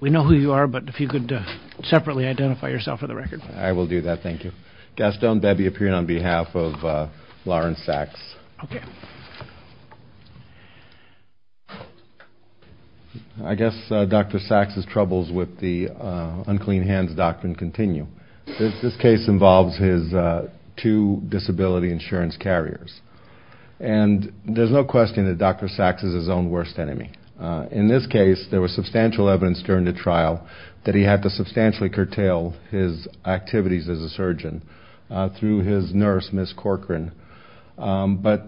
We know who you are, but if you could separately identify yourself for the record. I will do that, thank you. Gaston Bebby, appearing on behalf of Lawrence Saks. Okay. I guess Dr. Saks' troubles with the unclean hands doctrine continue. This case involves his two disability insurance carriers. And there's no question that Dr. Saks is his own worst enemy. In this case, there was substantial evidence during the trial that he had to substantially curtail his activities as a surgeon through his nurse, Ms. Corcoran. But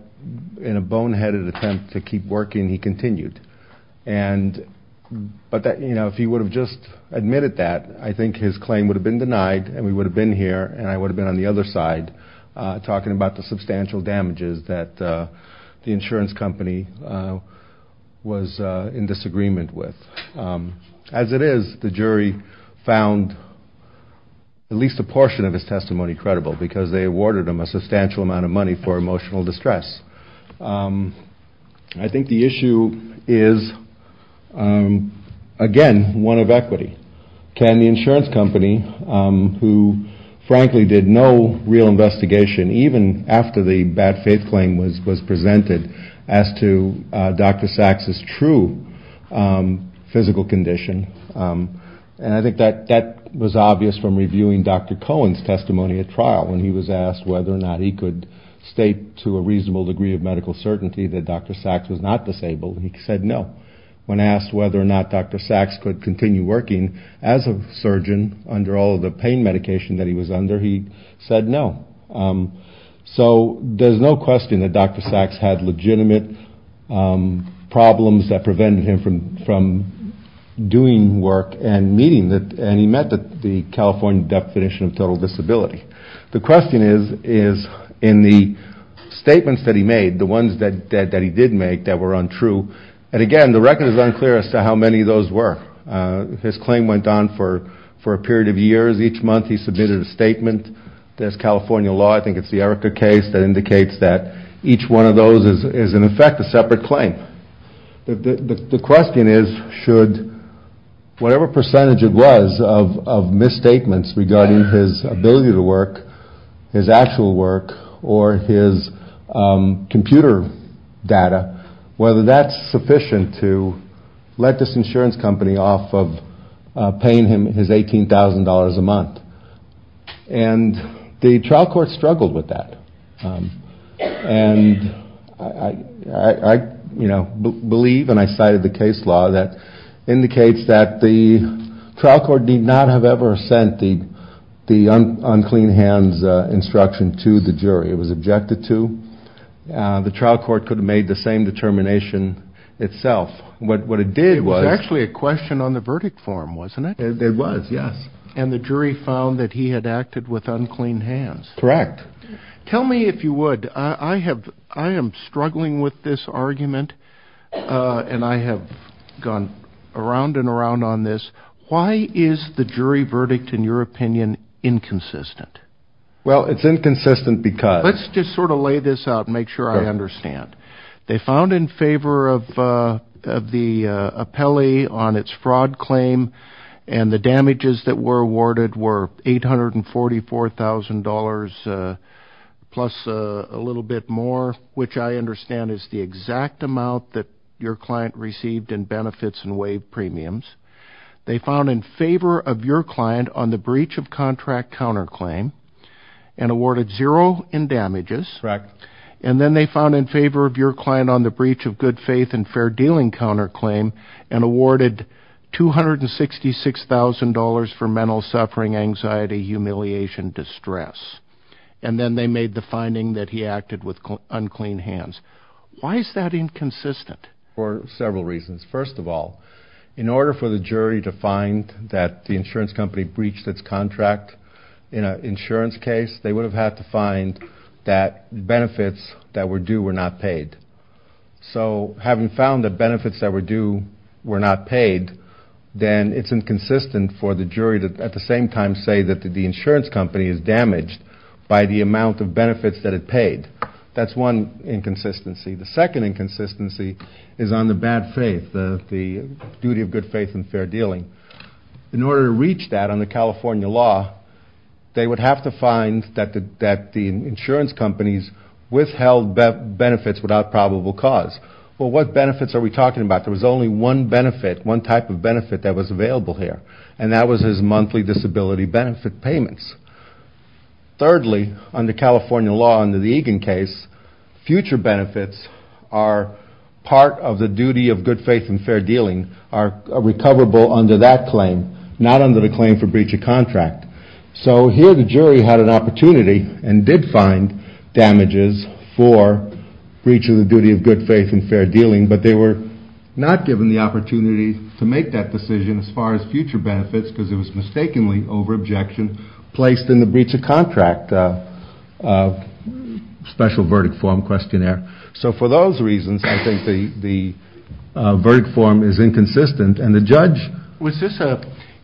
in a boneheaded attempt to keep working, he continued. But if he would have just admitted that, I think his claim would have been denied, and we would have been here, and I would have been on the other side talking about the substantial damages that the insurance company was in disagreement with. As it is, the jury found at least a portion of his testimony credible because they awarded him a substantial amount of money for emotional distress. I think the issue is, again, one of equity. Can the insurance company, who frankly did no real investigation, even after the bad faith claim was presented, as to Dr. Saks' true physical condition, and I think that was obvious from reviewing Dr. Cohen's testimony at trial when he was asked whether or not he could state to a reasonable degree of medical certainty that Dr. Saks was not disabled, and he said no. When asked whether or not Dr. Saks could continue working as a surgeon under all of the pain medication that he was under, he said no. So there's no question that Dr. Saks had legitimate problems that prevented him from doing work and meeting, and he met the California definition of total disability. The question is, in the statements that he made, the ones that he did make that were untrue, and again, the record is unclear as to how many of those were. His claim went on for a period of years. Each month he submitted a statement. There's California law, I think it's the Erica case, that indicates that each one of those is in effect a separate claim. The question is, should whatever percentage it was of misstatements regarding his ability to work, his actual work, or his computer data, whether that's sufficient to let this insurance company off of paying him his $18,000 a month. And the trial court struggled with that. And I believe, and I cited the case law, that indicates that the trial court did not have ever sent the unclean hands instruction to the jury. It was objected to. The trial court could have made the same determination itself. What it did was... It was actually a question on the verdict form, wasn't it? It was, yes. And the jury found that he had acted with unclean hands. Correct. Tell me if you would, I am struggling with this argument, and I have gone around and around on this. Why is the jury verdict, in your opinion, inconsistent? Well, it's inconsistent because... Let's just sort of lay this out and make sure I understand. They found in favor of the appellee on its fraud claim, and the damages that were awarded were $844,000 plus a little bit more, which I understand is the exact amount that your client received in benefits and waived premiums. They found in favor of your client on the breach of contract counterclaim, and awarded zero in damages. Correct. And then they found in favor of your client on the breach of good faith and fair dealing counterclaim, and awarded $266,000 for mental suffering, anxiety, humiliation, distress. And then they made the finding that he acted with unclean hands. Why is that inconsistent? For several reasons. First of all, in order for the jury to find that the insurance company breached its contract in an insurance case, they would have had to find that benefits that were due were not paid. So having found that benefits that were due were not paid, then it's inconsistent for the jury to at the same time say that the insurance company is damaged by the amount of benefits that it paid. That's one inconsistency. The second inconsistency is on the bad faith, the duty of good faith and fair dealing. In order to reach that on the California law, they would have to find that the insurance companies withheld benefits without probable cause. Well, what benefits are we talking about? There was only one benefit, one type of benefit that was available here, and that was his monthly disability benefit payments. Thirdly, under California law, under the Egan case, future benefits are part of the duty of good faith and fair dealing, are recoverable under that claim, not under the claim for breach of contract. So here the jury had an opportunity and did find damages for breach of the duty of good faith and fair dealing, but they were not given the opportunity to make that decision as far as future benefits because it was mistakenly over-objection placed in the breach of contract special verdict form questionnaire. So for those reasons, I think the verdict form is inconsistent, and the judge...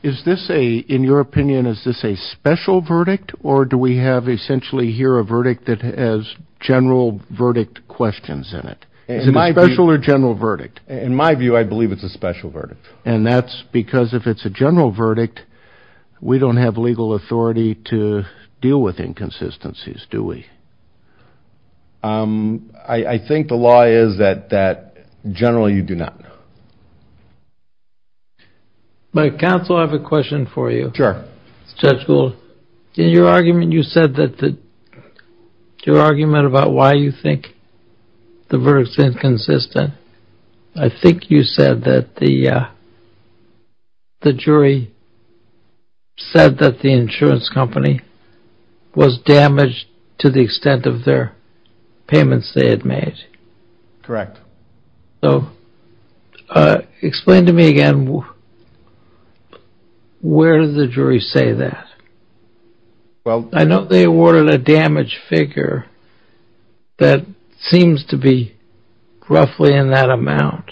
Is this a, in your opinion, is this a special verdict, or do we have essentially here a verdict that has general verdict questions in it? Is it a special or general verdict? In my view, I believe it's a special verdict. And that's because if it's a general verdict, we don't have legal authority to deal with inconsistencies, do we? I think the law is that generally you do not know. My counsel, I have a question for you. Sure. Judge Gould, in your argument you said that the, your argument about why you think the verdict's inconsistent, I think you said that the jury said that the insurance company was damaged to the extent of their payments they had made. Correct. So explain to me again, where did the jury say that? I know they awarded a damaged figure that seems to be roughly in that amount,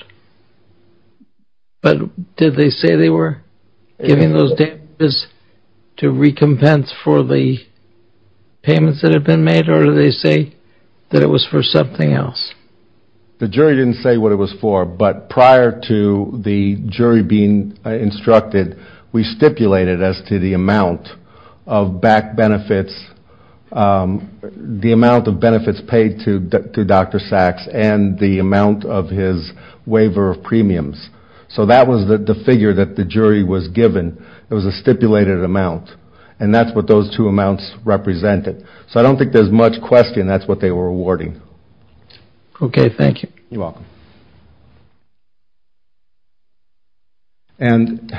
but did they say they were giving those damages to recompense for the payments that had been made, or did they say that it was for something else? The jury didn't say what it was for, but prior to the jury being instructed, we stipulated as to the amount of back benefits, the amount of benefits paid to Dr. Sacks, and the amount of his waiver of premiums. So that was the figure that the jury was given. It was a stipulated amount, and that's what those two amounts represented. So I don't think there's much question that's what they were awarding. Okay, thank you. You're welcome. And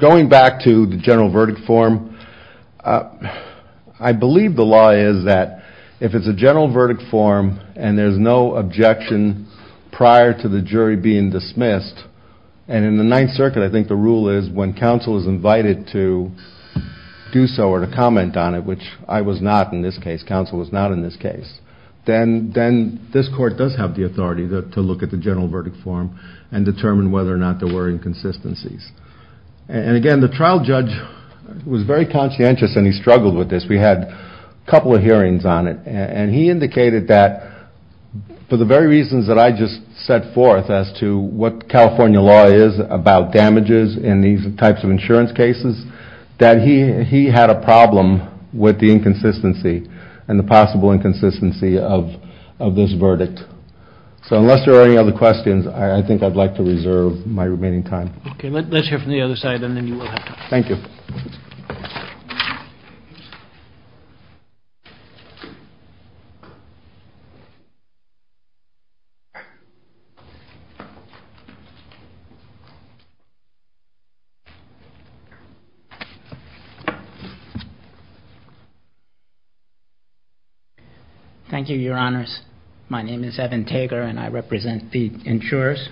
going back to the general verdict form, I believe the law is that if it's a general verdict form and there's no objection prior to the jury being dismissed, and in the Ninth Circuit I think the rule is when counsel is invited to do so or to comment on it, which I was not in this case, counsel was not in this case, then this court does have the authority to look at the general verdict form and determine whether or not there were inconsistencies. And again, the trial judge was very conscientious, and he struggled with this. We had a couple of hearings on it, and he indicated that for the very reasons that I just set forth as to what California law is about damages in these types of insurance cases, that he had a problem with the inconsistency and the possible inconsistency of this verdict. So unless there are any other questions, I think I'd like to reserve my remaining time. Okay, let's hear from the other side, and then you will have time. Thank you. Thank you, Your Honors. My name is Evan Tager, and I represent the insurers.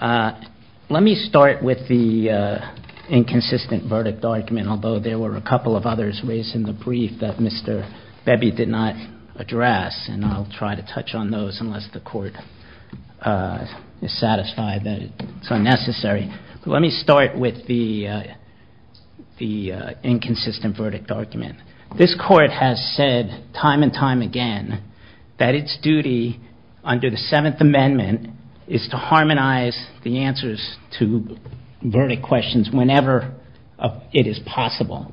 Let me start with the inconsistent verdict argument, although there were a couple of others raised in the brief that Mr. Bebby did not address, and I'll try to touch on those unless the court is satisfied that it's unnecessary. Let me start with the inconsistent verdict argument. This court has said time and time again that its duty under the Seventh Amendment is to harmonize the answers to verdict questions whenever it is possible.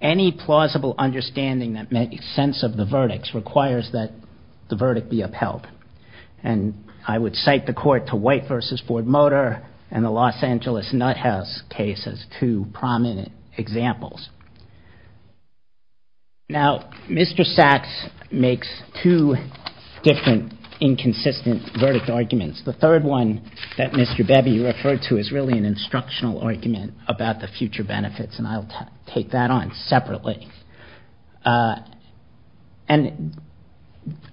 Any plausible understanding that makes sense of the verdicts requires that the verdict be upheld. And I would cite the court to White v. Ford Motor and the Los Angeles Nuthouse case as two prominent examples. Now, Mr. Sachs makes two different inconsistent verdict arguments. The third one that Mr. Bebby referred to is really an instructional argument about the future benefits, and I'll take that on separately. And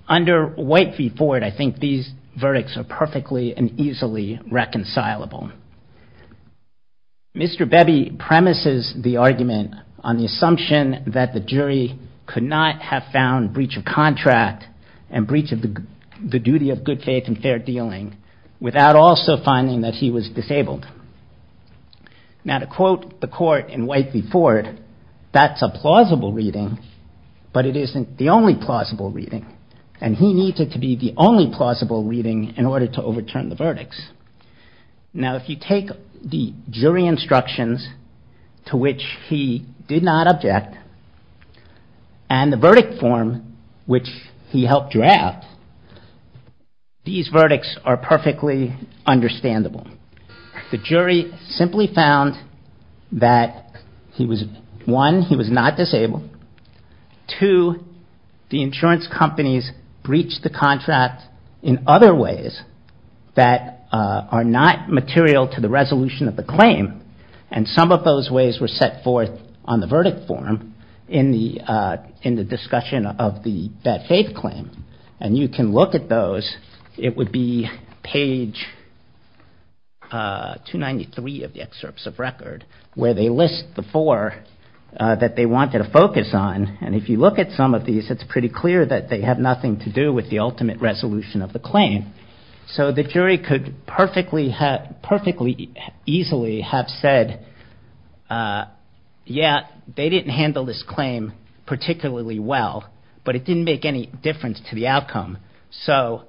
under White v. Ford, I think these verdicts are perfectly and easily reconcilable. Mr. Bebby premises the argument on the assumption that the jury could not have found breach of contract and breach of the duty of good faith and fair dealing without also finding that he was disabled. Now, to quote the court in White v. Ford, that's a plausible reading, but it isn't the only plausible reading, and he needed to be the only plausible reading in order to overturn the verdicts. Now, if you take the jury instructions to which he did not object and the verdict form which he helped draft, these verdicts are perfectly understandable. The jury simply found that, one, he was not disabled. Two, the insurance companies breached the contract in other ways that are not material to the resolution of the claim, and some of those ways were set forth on the verdict form in the discussion of that faith claim, and you can look at those. It would be page 293 of the excerpts of record where they list the four that they wanted to focus on, and if you look at some of these, it's pretty clear that they have nothing to do with the ultimate resolution of the claim. So the jury could perfectly easily have said, yeah, they didn't handle this claim particularly well, but it didn't make any difference to the outcome. So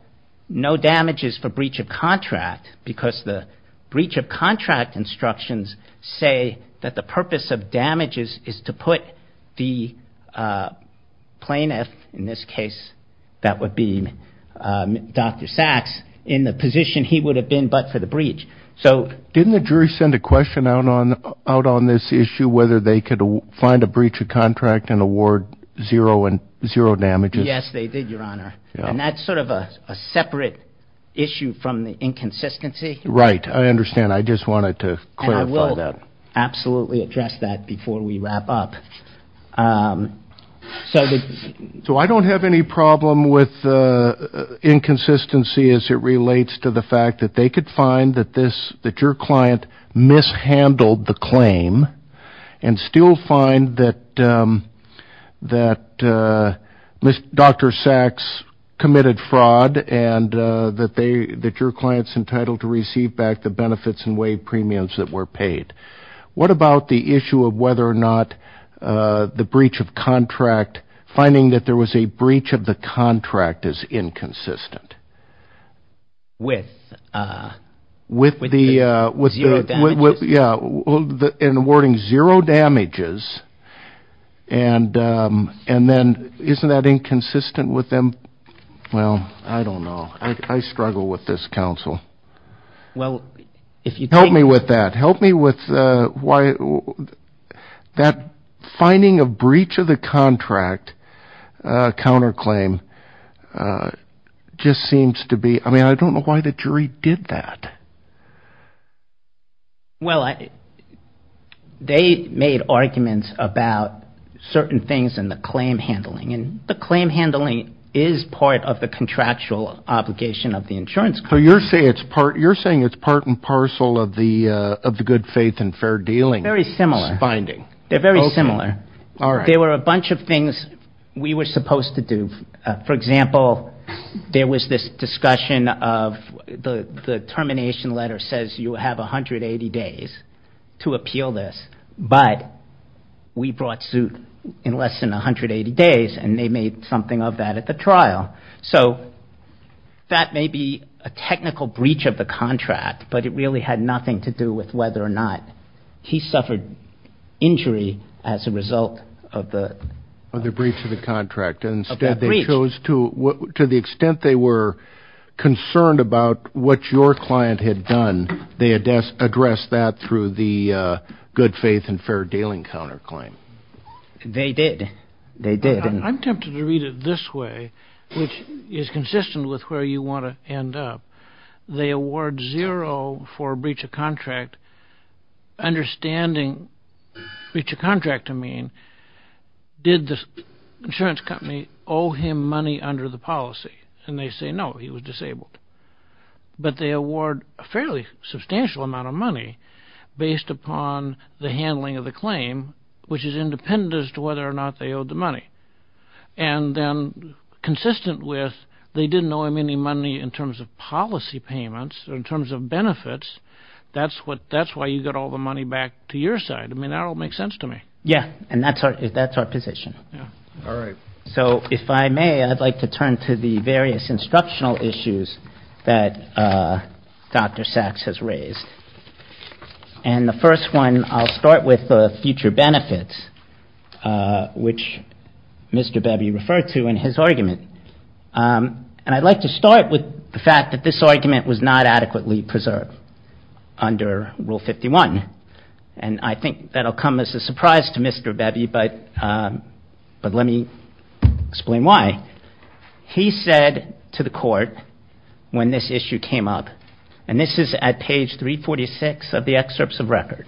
no damages for breach of contract because the breach of contract instructions say that the purpose of damages is to put the plaintiff, in this case that would be Dr. Sachs, in the position he would have been but for the breach. Didn't the jury send a question out on this issue whether they could find a breach of contract and award zero damages? Yes, they did, Your Honor, and that's sort of a separate issue from the inconsistency. Right, I understand. I just wanted to clarify that. Absolutely address that before we wrap up. So I don't have any problem with inconsistency as it relates to the fact that they could find that your client mishandled the claim and still find that Dr. Sachs committed fraud and that your client's entitled to receive back the benefits and waive premiums that were paid. What about the issue of whether or not the breach of contract, finding that there was a breach of the contract is inconsistent? With the zero damages? Yeah, in awarding zero damages. And then isn't that inconsistent with them? Well, I don't know. I struggle with this, counsel. Help me with that. Help me with why that finding of breach of the contract counterclaim just seems to be – I mean, I don't know why the jury did that. Well, they made arguments about certain things in the claim handling, and the claim handling is part of the contractual obligation of the insurance company. So you're saying it's part and parcel of the good faith and fair dealing? Very similar. They're very similar. There were a bunch of things we were supposed to do. For example, there was this discussion of the termination letter says you have 180 days to appeal this, but we brought suit in less than 180 days, and they made something of that at the trial. So that may be a technical breach of the contract, but it really had nothing to do with whether or not he suffered injury as a result of the – Of the breach of the contract. Of that breach. And instead they chose to – to the extent they were concerned about what your client had done, they addressed that through the good faith and fair dealing counterclaim. They did. They did. I'm tempted to read it this way, which is consistent with where you want to end up. They award zero for breach of contract, understanding breach of contract to mean did the insurance company owe him money under the policy? And they say no, he was disabled. But they award a fairly substantial amount of money based upon the handling of the claim, which is independent as to whether or not they owed the money. And then consistent with they didn't owe him any money in terms of policy payments or in terms of benefits, that's what – that's why you got all the money back to your side. I mean, that all makes sense to me. Yeah, and that's our – that's our position. Yeah. All right. So if I may, I'd like to turn to the various instructional issues that Dr. Sachs has raised. And the first one, I'll start with the future benefits, which Mr. Bebby referred to in his argument. And I'd like to start with the fact that this argument was not adequately preserved under Rule 51. And I think that'll come as a surprise to Mr. Bebby, but let me explain why. He said to the court when this issue came up, and this is at page 346 of the excerpts of record,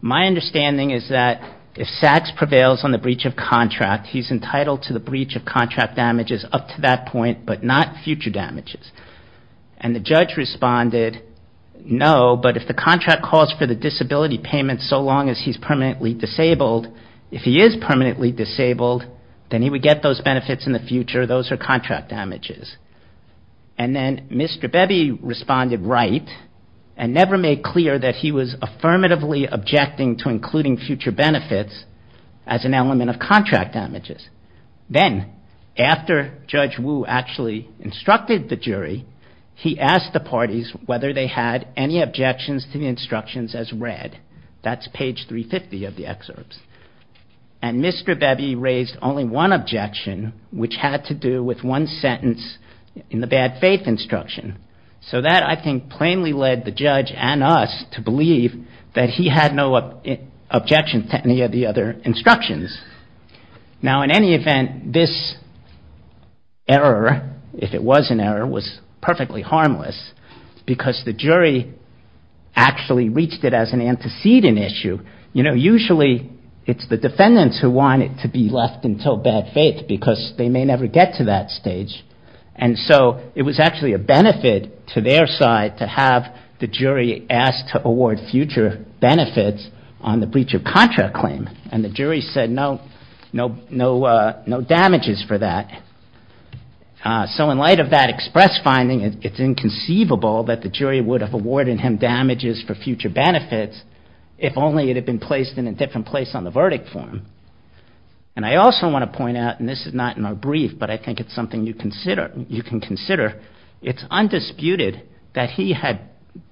my understanding is that if Sachs prevails on the breach of contract, he's entitled to the breach of contract damages up to that point but not future damages. And the judge responded, no, but if the contract calls for the disability payment so long as he's permanently disabled, if he is permanently disabled, then he would get those benefits in the future. Those are contract damages. And then Mr. Bebby responded right and never made clear that he was affirmatively objecting to including future benefits as an element of contract damages. Then after Judge Wu actually instructed the jury, he asked the parties whether they had any objections to the instructions as read. That's page 350 of the excerpts. And Mr. Bebby raised only one objection, which had to do with one sentence in the bad faith instruction. So that, I think, plainly led the judge and us to believe that he had no objections to any of the other instructions. Now, in any event, this error, if it was an error, was perfectly harmless because the jury actually reached it as an antecedent issue. You know, usually it's the defendants who want it to be left until bad faith because they may never get to that stage. And so it was actually a benefit to their side to have the jury ask to award future benefits on the breach of contract claim. And the jury said no damages for that. So in light of that express finding, it's inconceivable that the jury would have awarded him damages for future benefits if only it had been placed in a different place on the verdict form. And I also want to point out, and this is not in our brief, but I think it's something you can consider, it's undisputed that he had,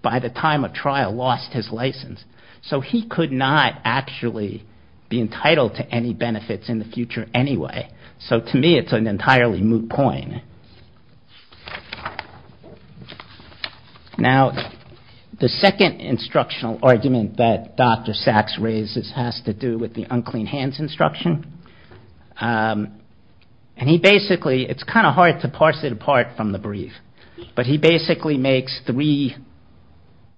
by the time of trial, lost his license. So he could not actually be entitled to any benefits in the future anyway. So to me, it's an entirely moot point. Now, the second instructional argument that Dr. Sachs raises has to do with the unclean hands instruction. And he basically, it's kind of hard to parse it apart from the brief, but he basically makes three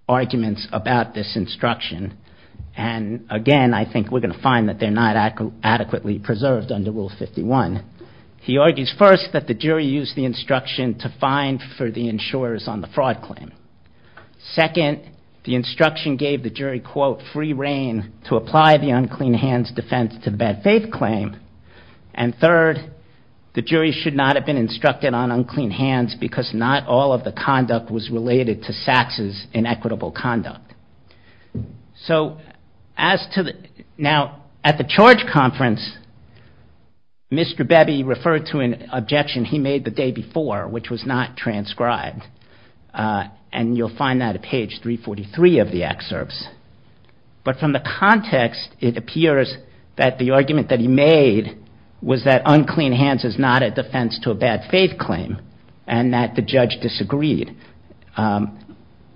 arguments about this instruction. And again, I think we're going to find that they're not adequately preserved under Rule 51. He argues first that the jury used the instruction to fine for the insurers on the fraud claim. Second, the instruction gave the jury, quote, free reign to apply the unclean hands defense to the bad faith claim. And third, the jury should not have been instructed on unclean hands because not all of the conduct was related to Sachs' inequitable conduct. So as to the, now, at the charge conference, Mr. Bebby referred to an objection he made the day before, which was not transcribed. And you'll find that at page 343 of the excerpts. But from the context, it appears that the argument that he made was that unclean hands is not a defense to a bad faith claim and that the judge disagreed.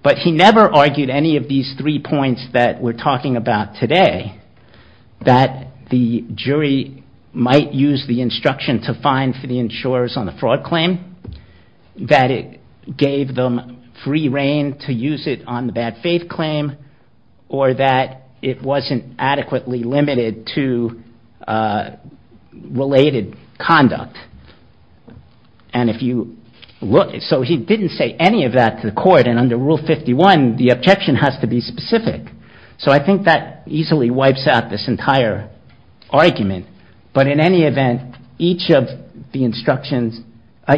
But he never argued any of these three points that we're talking about today, that the jury might use the instruction to fine for the insurers on the fraud claim, that it gave them free reign to use it on the bad faith claim, or that it wasn't adequately limited to related conduct. And if you look, so he didn't say any of that to the court. And under Rule 51, the objection has to be specific. So I think that easily wipes out this entire argument. But in any event, each of the instructions,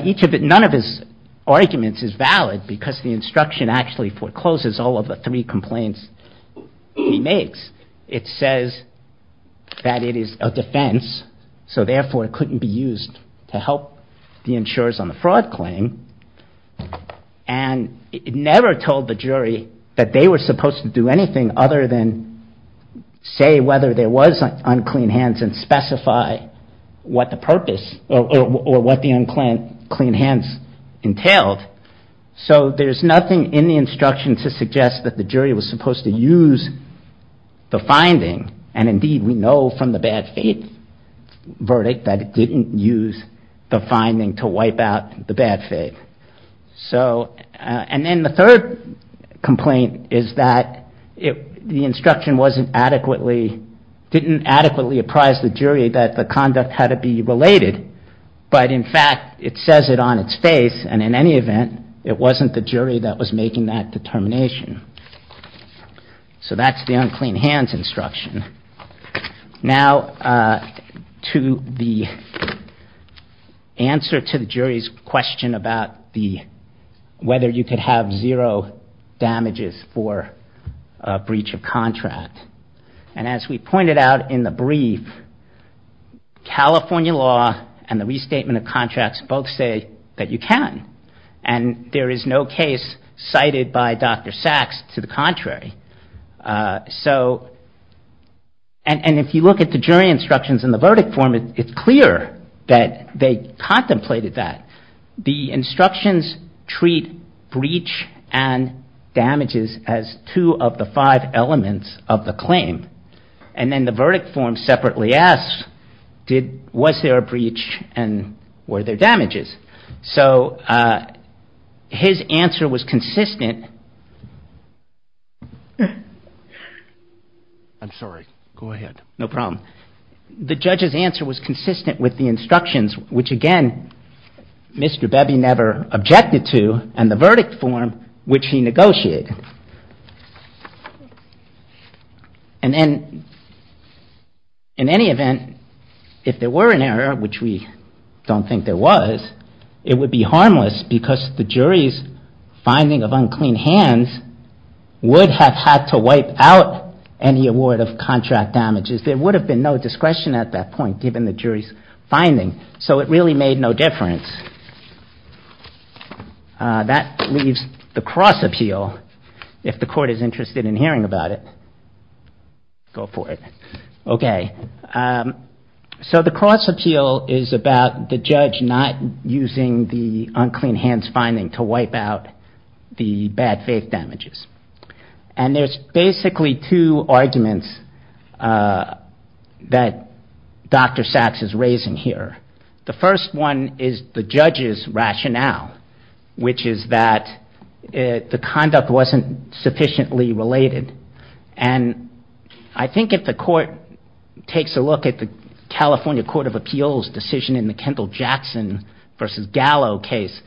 each of it, none of his arguments is valid because the instruction actually forecloses all of the three complaints he makes. It says that it is a defense, so therefore it couldn't be used to help the insurers on the fraud claim. And it never told the jury that they were supposed to do anything other than say whether there was unclean hands, and specify what the purpose, or what the unclean hands entailed. So there's nothing in the instruction to suggest that the jury was supposed to use the finding. And indeed, we know from the bad faith verdict that it didn't use the finding to wipe out the bad faith. So, and then the third complaint is that the instruction wasn't adequately, didn't adequately apprise the jury that the conduct had to be related. But in fact, it says it on its face, and in any event, it wasn't the jury that was making that determination. So that's the unclean hands instruction. Now, to the answer to the jury's question about whether you could have zero damages for a breach of contract. And as we pointed out in the brief, California law and the restatement of contracts both say that you can. And there is no case cited by Dr. Sachs to the contrary. So, and if you look at the jury instructions in the verdict form, it's clear that they contemplated that. The instructions treat breach and damages as two of the five elements of the claim. And then the verdict form separately asks, was there a breach and were there damages? So his answer was consistent. I'm sorry, go ahead. No problem. The judge's answer was consistent with the instructions, which again, Mr. Bebby never objected to. And the verdict form, which he negotiated. And then, in any event, if there were an error, which we don't think there was, it would be harmless. Because the jury's finding of unclean hands would have had to wipe out any award of contract damages. There would have been no discretion at that point, given the jury's finding, so it really made no difference. That leaves the cross appeal, if the court is interested in hearing about it. Go for it. Okay. So the cross appeal is about the judge not using the unclean hands finding to wipe out the bad faith damages. And there's basically two arguments that Dr. Sachs is raising here. The first one is the judge's rationale, which is that the conduct wasn't sufficiently related. And I think if the court takes a look at the California Court of Appeals decision in the Kendall-Jackson versus Gallo case,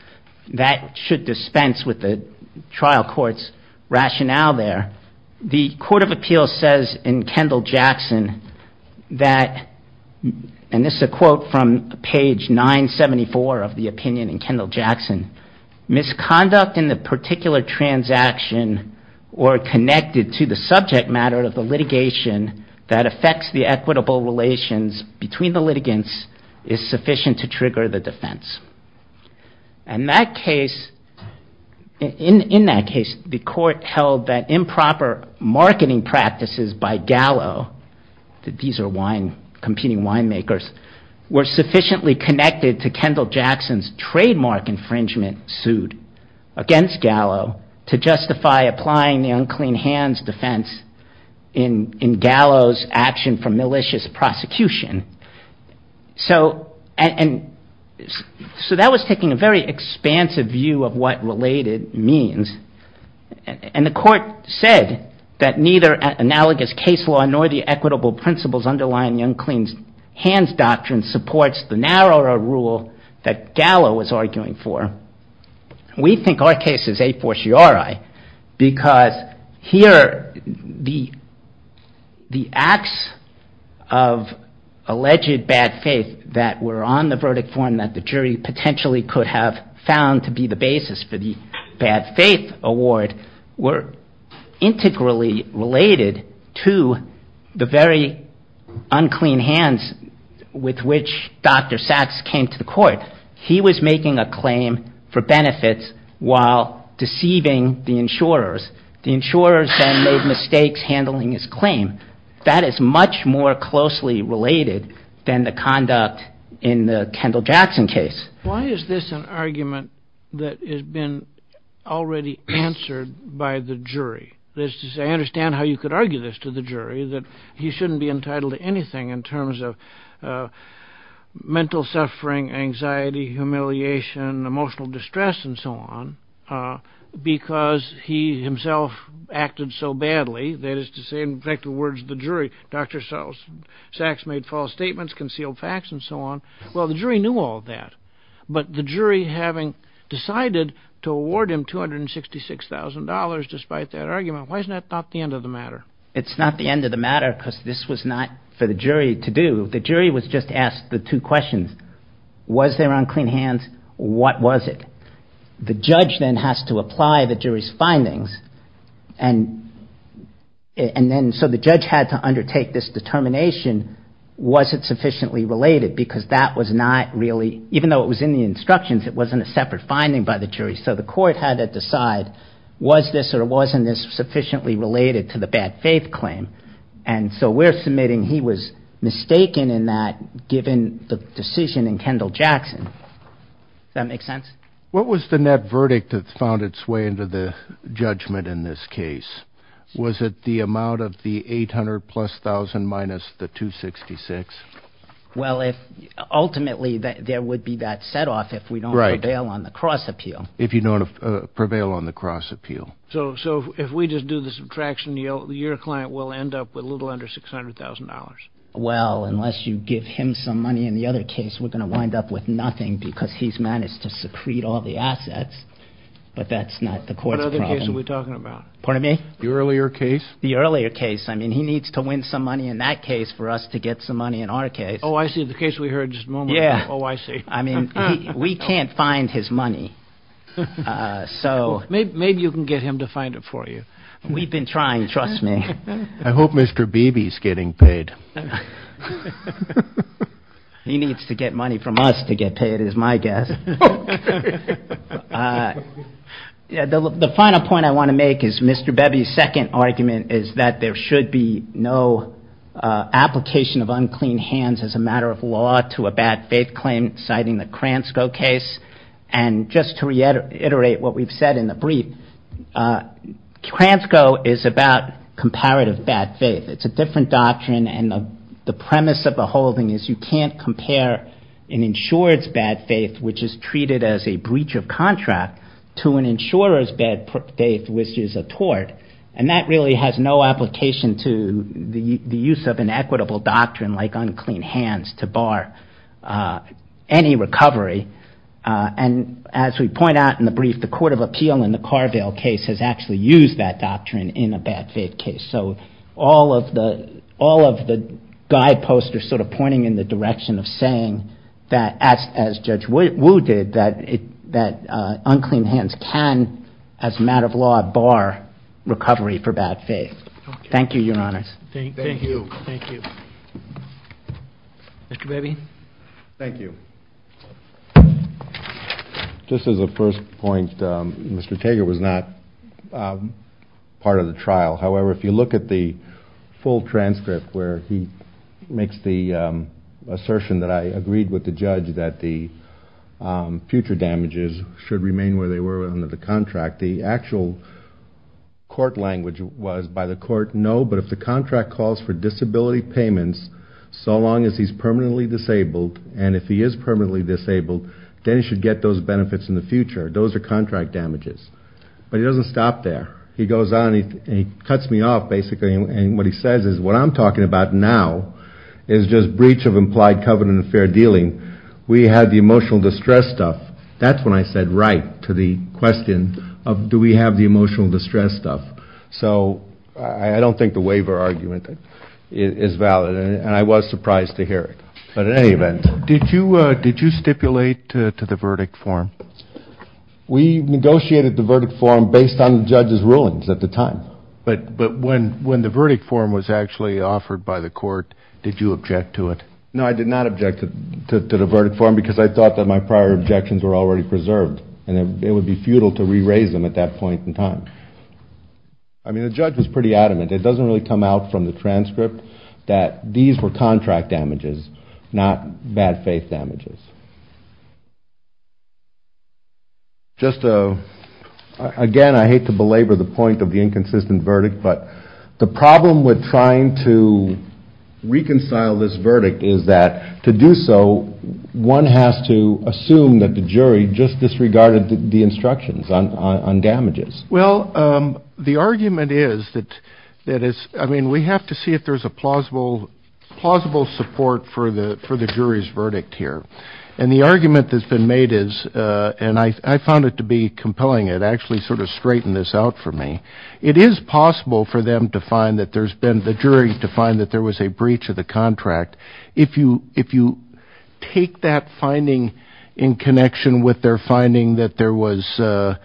that should dispense with the trial court's rationale there. The Court of Appeals says in Kendall-Jackson that, and this is a quote from page 974 of the opinion in Kendall-Jackson, misconduct in the particular transaction or connected to the subject matter of the litigation that affects the equitable relations between the litigants is sufficient to trigger the defense. And in that case, the court held that improper marketing practices by Gallo, that these are competing winemakers, were sufficiently connected to Kendall-Jackson's trademark infringement sued against Gallo to justify applying the unclean hands defense in Gallo's action for malicious prosecution. So that was taking a very expansive view of what related means. And the court said that neither analogous case law nor the equitable principles underlying unclean hands doctrine supports the narrower rule that Gallo was arguing for. We think our case is a fortiori because here the acts of unlawful marketing by Gallo and the unclean hands defense in Gallo, the alleged bad faith that were on the verdict form that the jury potentially could have found to be the basis for the bad faith award, were integrally related to the very unclean hands with which Dr. Sacks came to the court. He was making a claim for benefits while deceiving the insurers. The insurers then made mistakes handling his claim. Dr. Sacks himself acted so badly, that is to say in the words of the jury, Dr. Sacks made false statements, concealed facts, and so on. Well, the jury knew all of that, but the jury having decided to award him $266,000 despite that argument, why isn't that not the end of the matter? It's not the end of the matter because this was not for the jury to do. The jury was just asked the two questions, was there unclean hands, what was it? The judge then has to apply the jury's findings and then so the judge had to undertake this determination, was it sufficiently related because that was not really, even though it was in the instructions, it wasn't a separate finding by the jury. So the court had to decide, was this or wasn't this sufficiently related to the bad faith claim? And so we're submitting he was mistaken in that given the decision in Kendall-Jackson. Does that make sense? What was the net verdict that found its way into the judgment in this case? Was it the amount of the $800,000 plus $1,000,000 minus the $266,000? Well, ultimately there would be that set off if we don't prevail on the cross appeal. So if we just do the subtraction, your client will end up with a little under $600,000. Well, unless you give him some money in the other case, we're going to wind up with nothing because he's managed to secrete all the assets, but that's not the court's problem. What other case are we talking about? The earlier case. I mean, he needs to win some money in that case for us to get some money in our case. Oh, I see. The case we heard just a moment ago. Oh, I see. I mean, we can't find his money. So maybe you can get him to find it for you. We've been trying. Trust me. I hope Mr. Beebe is getting paid. He needs to get money from us to get paid is my guess. The final point I want to make is Mr. Beebe's second argument is that there should be no application of unclean hands as a matter of law to a bad faith claim, citing the Kransko case. And just to reiterate what we've said in the brief, Kransko is about comparative bad faith. It's a different doctrine, and the premise of the whole thing is you can't compare an insured's bad faith, which is true. You can't treat it as a breach of contract to an insurer's bad faith, which is a tort. And that really has no application to the use of an equitable doctrine like unclean hands to bar any recovery. And as we point out in the brief, the Court of Appeal in the Carville case has actually used that doctrine in a bad faith case. So all of the guideposts are sort of pointing in the direction of saying that as Judge Wu did, that unclean hands can, as a matter of law, bar recovery for bad faith. Thank you, Your Honors. Thank you. Mr. Beebe? Thank you. Just as a first point, Mr. Tager was not part of the trial. However, if you look at the full transcript where he makes the assertion that I agreed with the judge that the future damages should remain where they were under the contract, the actual court language was by the court, no, but if the contract calls for disability payments so long as he's permanently disabled, and if he is permanently disabled, then he should get those benefits in the future. Those are contract damages. But he doesn't stop there. He goes on and he cuts me off, basically, and what he says is what I'm talking about now is just breach of implied covenant of fair dealing. We had the emotional distress stuff. That's when I said right to the question of do we have the emotional distress stuff. So I don't think the waiver argument is valid. And I was surprised to hear it. But in any event, did you stipulate to the verdict form? We negotiated the verdict form based on the judge's rulings at the time. But when the verdict form was actually offered by the court, did you object to it? No, I did not object to the verdict form because I thought that my prior objections were already preserved and it would be futile to re-raise them at that point in time. I mean, the judge was pretty adamant. It doesn't really come out from the transcript that these were contract damages, not bad faith damages. Just again, I hate to belabor the point of the inconsistent verdict, but the problem with trying to reconcile this verdict is that to do so, one has to assume that the jury just disregarded the instructions on damages. Well, the argument is that we have to see if there's a plausible support for the jury's verdict here. And the argument that's been made is, and I found it to be compelling. It actually sort of straightened this out for me. It is possible for the jury to find that there was a breach of the contract. If you take that finding in connection with their finding that there was a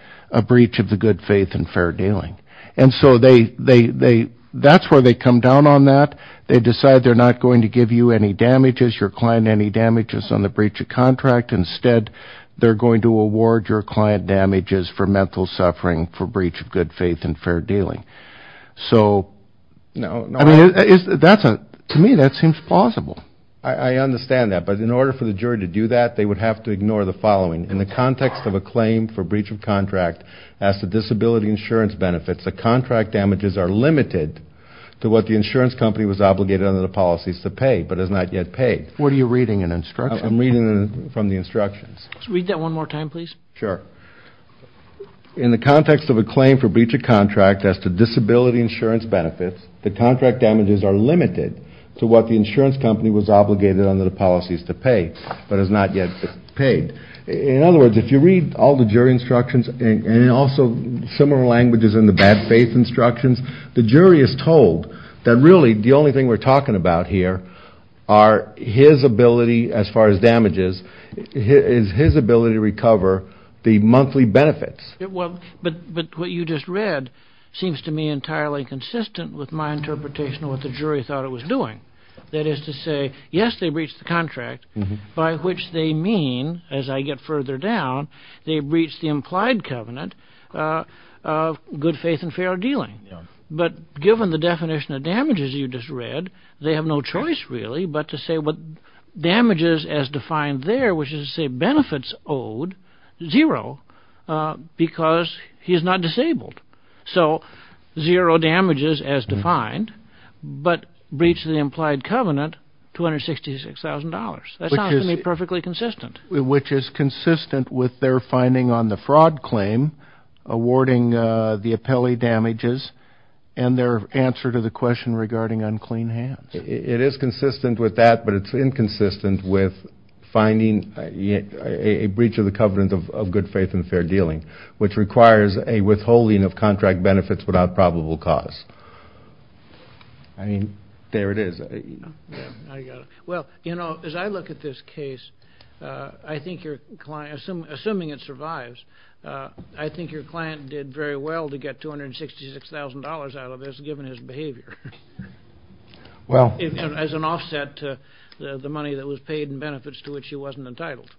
breach of the good judgment, then that's a breach of good faith and fair dealing. And so that's where they come down on that. They decide they're not going to give you any damages, your client any damages on the breach of contract. Instead, they're going to award your client damages for mental suffering for breach of good faith and fair dealing. To me, that seems plausible. I understand that, but in order for the jury to do that, they would have to ignore the following. In the context of a claim for breach of contract as to disability insurance benefits, the contract damages are limited to what the insurance company was obligated under the policies to pay, but has not yet paid. What are you reading in the instructions? I'm reading from the instructions. Read that one more time, please. Sure. In the context of a claim for breach of contract as to disability insurance benefits, the contract damages are limited to what the insurance company was obligated under the policies to pay, but has not yet paid. In other words, if you read all the jury instructions and also similar languages in the bad faith instructions, the jury is told that really the only thing we're talking about here are his ability, as far as damages, is his ability to recover the monthly benefits. But what you just read seems to me entirely consistent with my interpretation of what the jury thought it was doing. That is to say, yes, they breached the contract, by which they mean, as I get further down, they breached the implied covenant of good faith and fair dealing. But given the definition of damages you just read, they have no choice, really, but to say what damages as defined there, which is to say benefits owed, zero, because he is not disabled. So zero damages as defined, but breach of the implied covenant, $266,000. That sounds to me perfectly consistent. Which is consistent with their finding on the fraud claim, awarding the appellee damages, and their answer to the question regarding unclean hands. It is consistent with that, but it's inconsistent with finding a breach of the covenant of good faith and fair dealing, which requires a withholding of contract benefits without probable cause. I mean, there it is. Well, you know, as I look at this case, I think your client, assuming it survives, I think your client did very well to get $266,000 out of this, given his behavior. Well. As an offset to the money that was paid in benefits to which he wasn't entitled.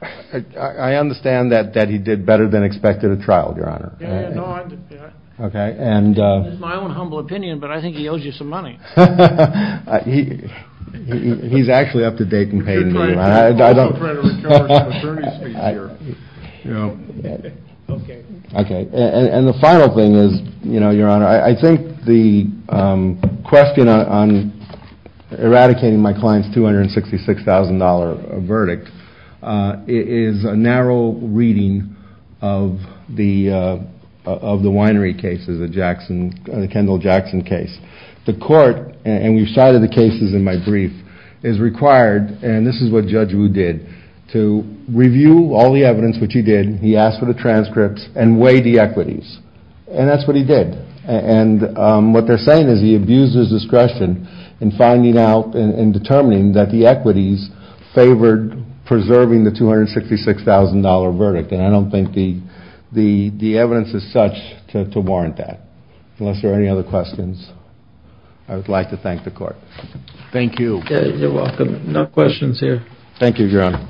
I understand that he did better than expected at trial, your honor. Okay. It's my own humble opinion, but I think he owes you some money. He's actually up to date and paid. Okay. Okay. And the final thing is, you know, your honor, I think the question on eradicating my client's $266,000 verdict is a narrow reading of the winery cases, the Jackson, the Kendall Jackson case. The court, and we've cited the cases in my brief, is required, and this is what Judge Wu did, to review all the evidence, which he did. He asked for the transcripts and weighed the equities. And that's what he did. And what they're saying is he abused his discretion in finding out and determining that the equities favored preserving the $266,000 verdict. And I don't think the evidence is such to warrant that. Unless there are any other questions, I would like to thank the court. Thank you. You're welcome. No questions here. Thank you, your honor.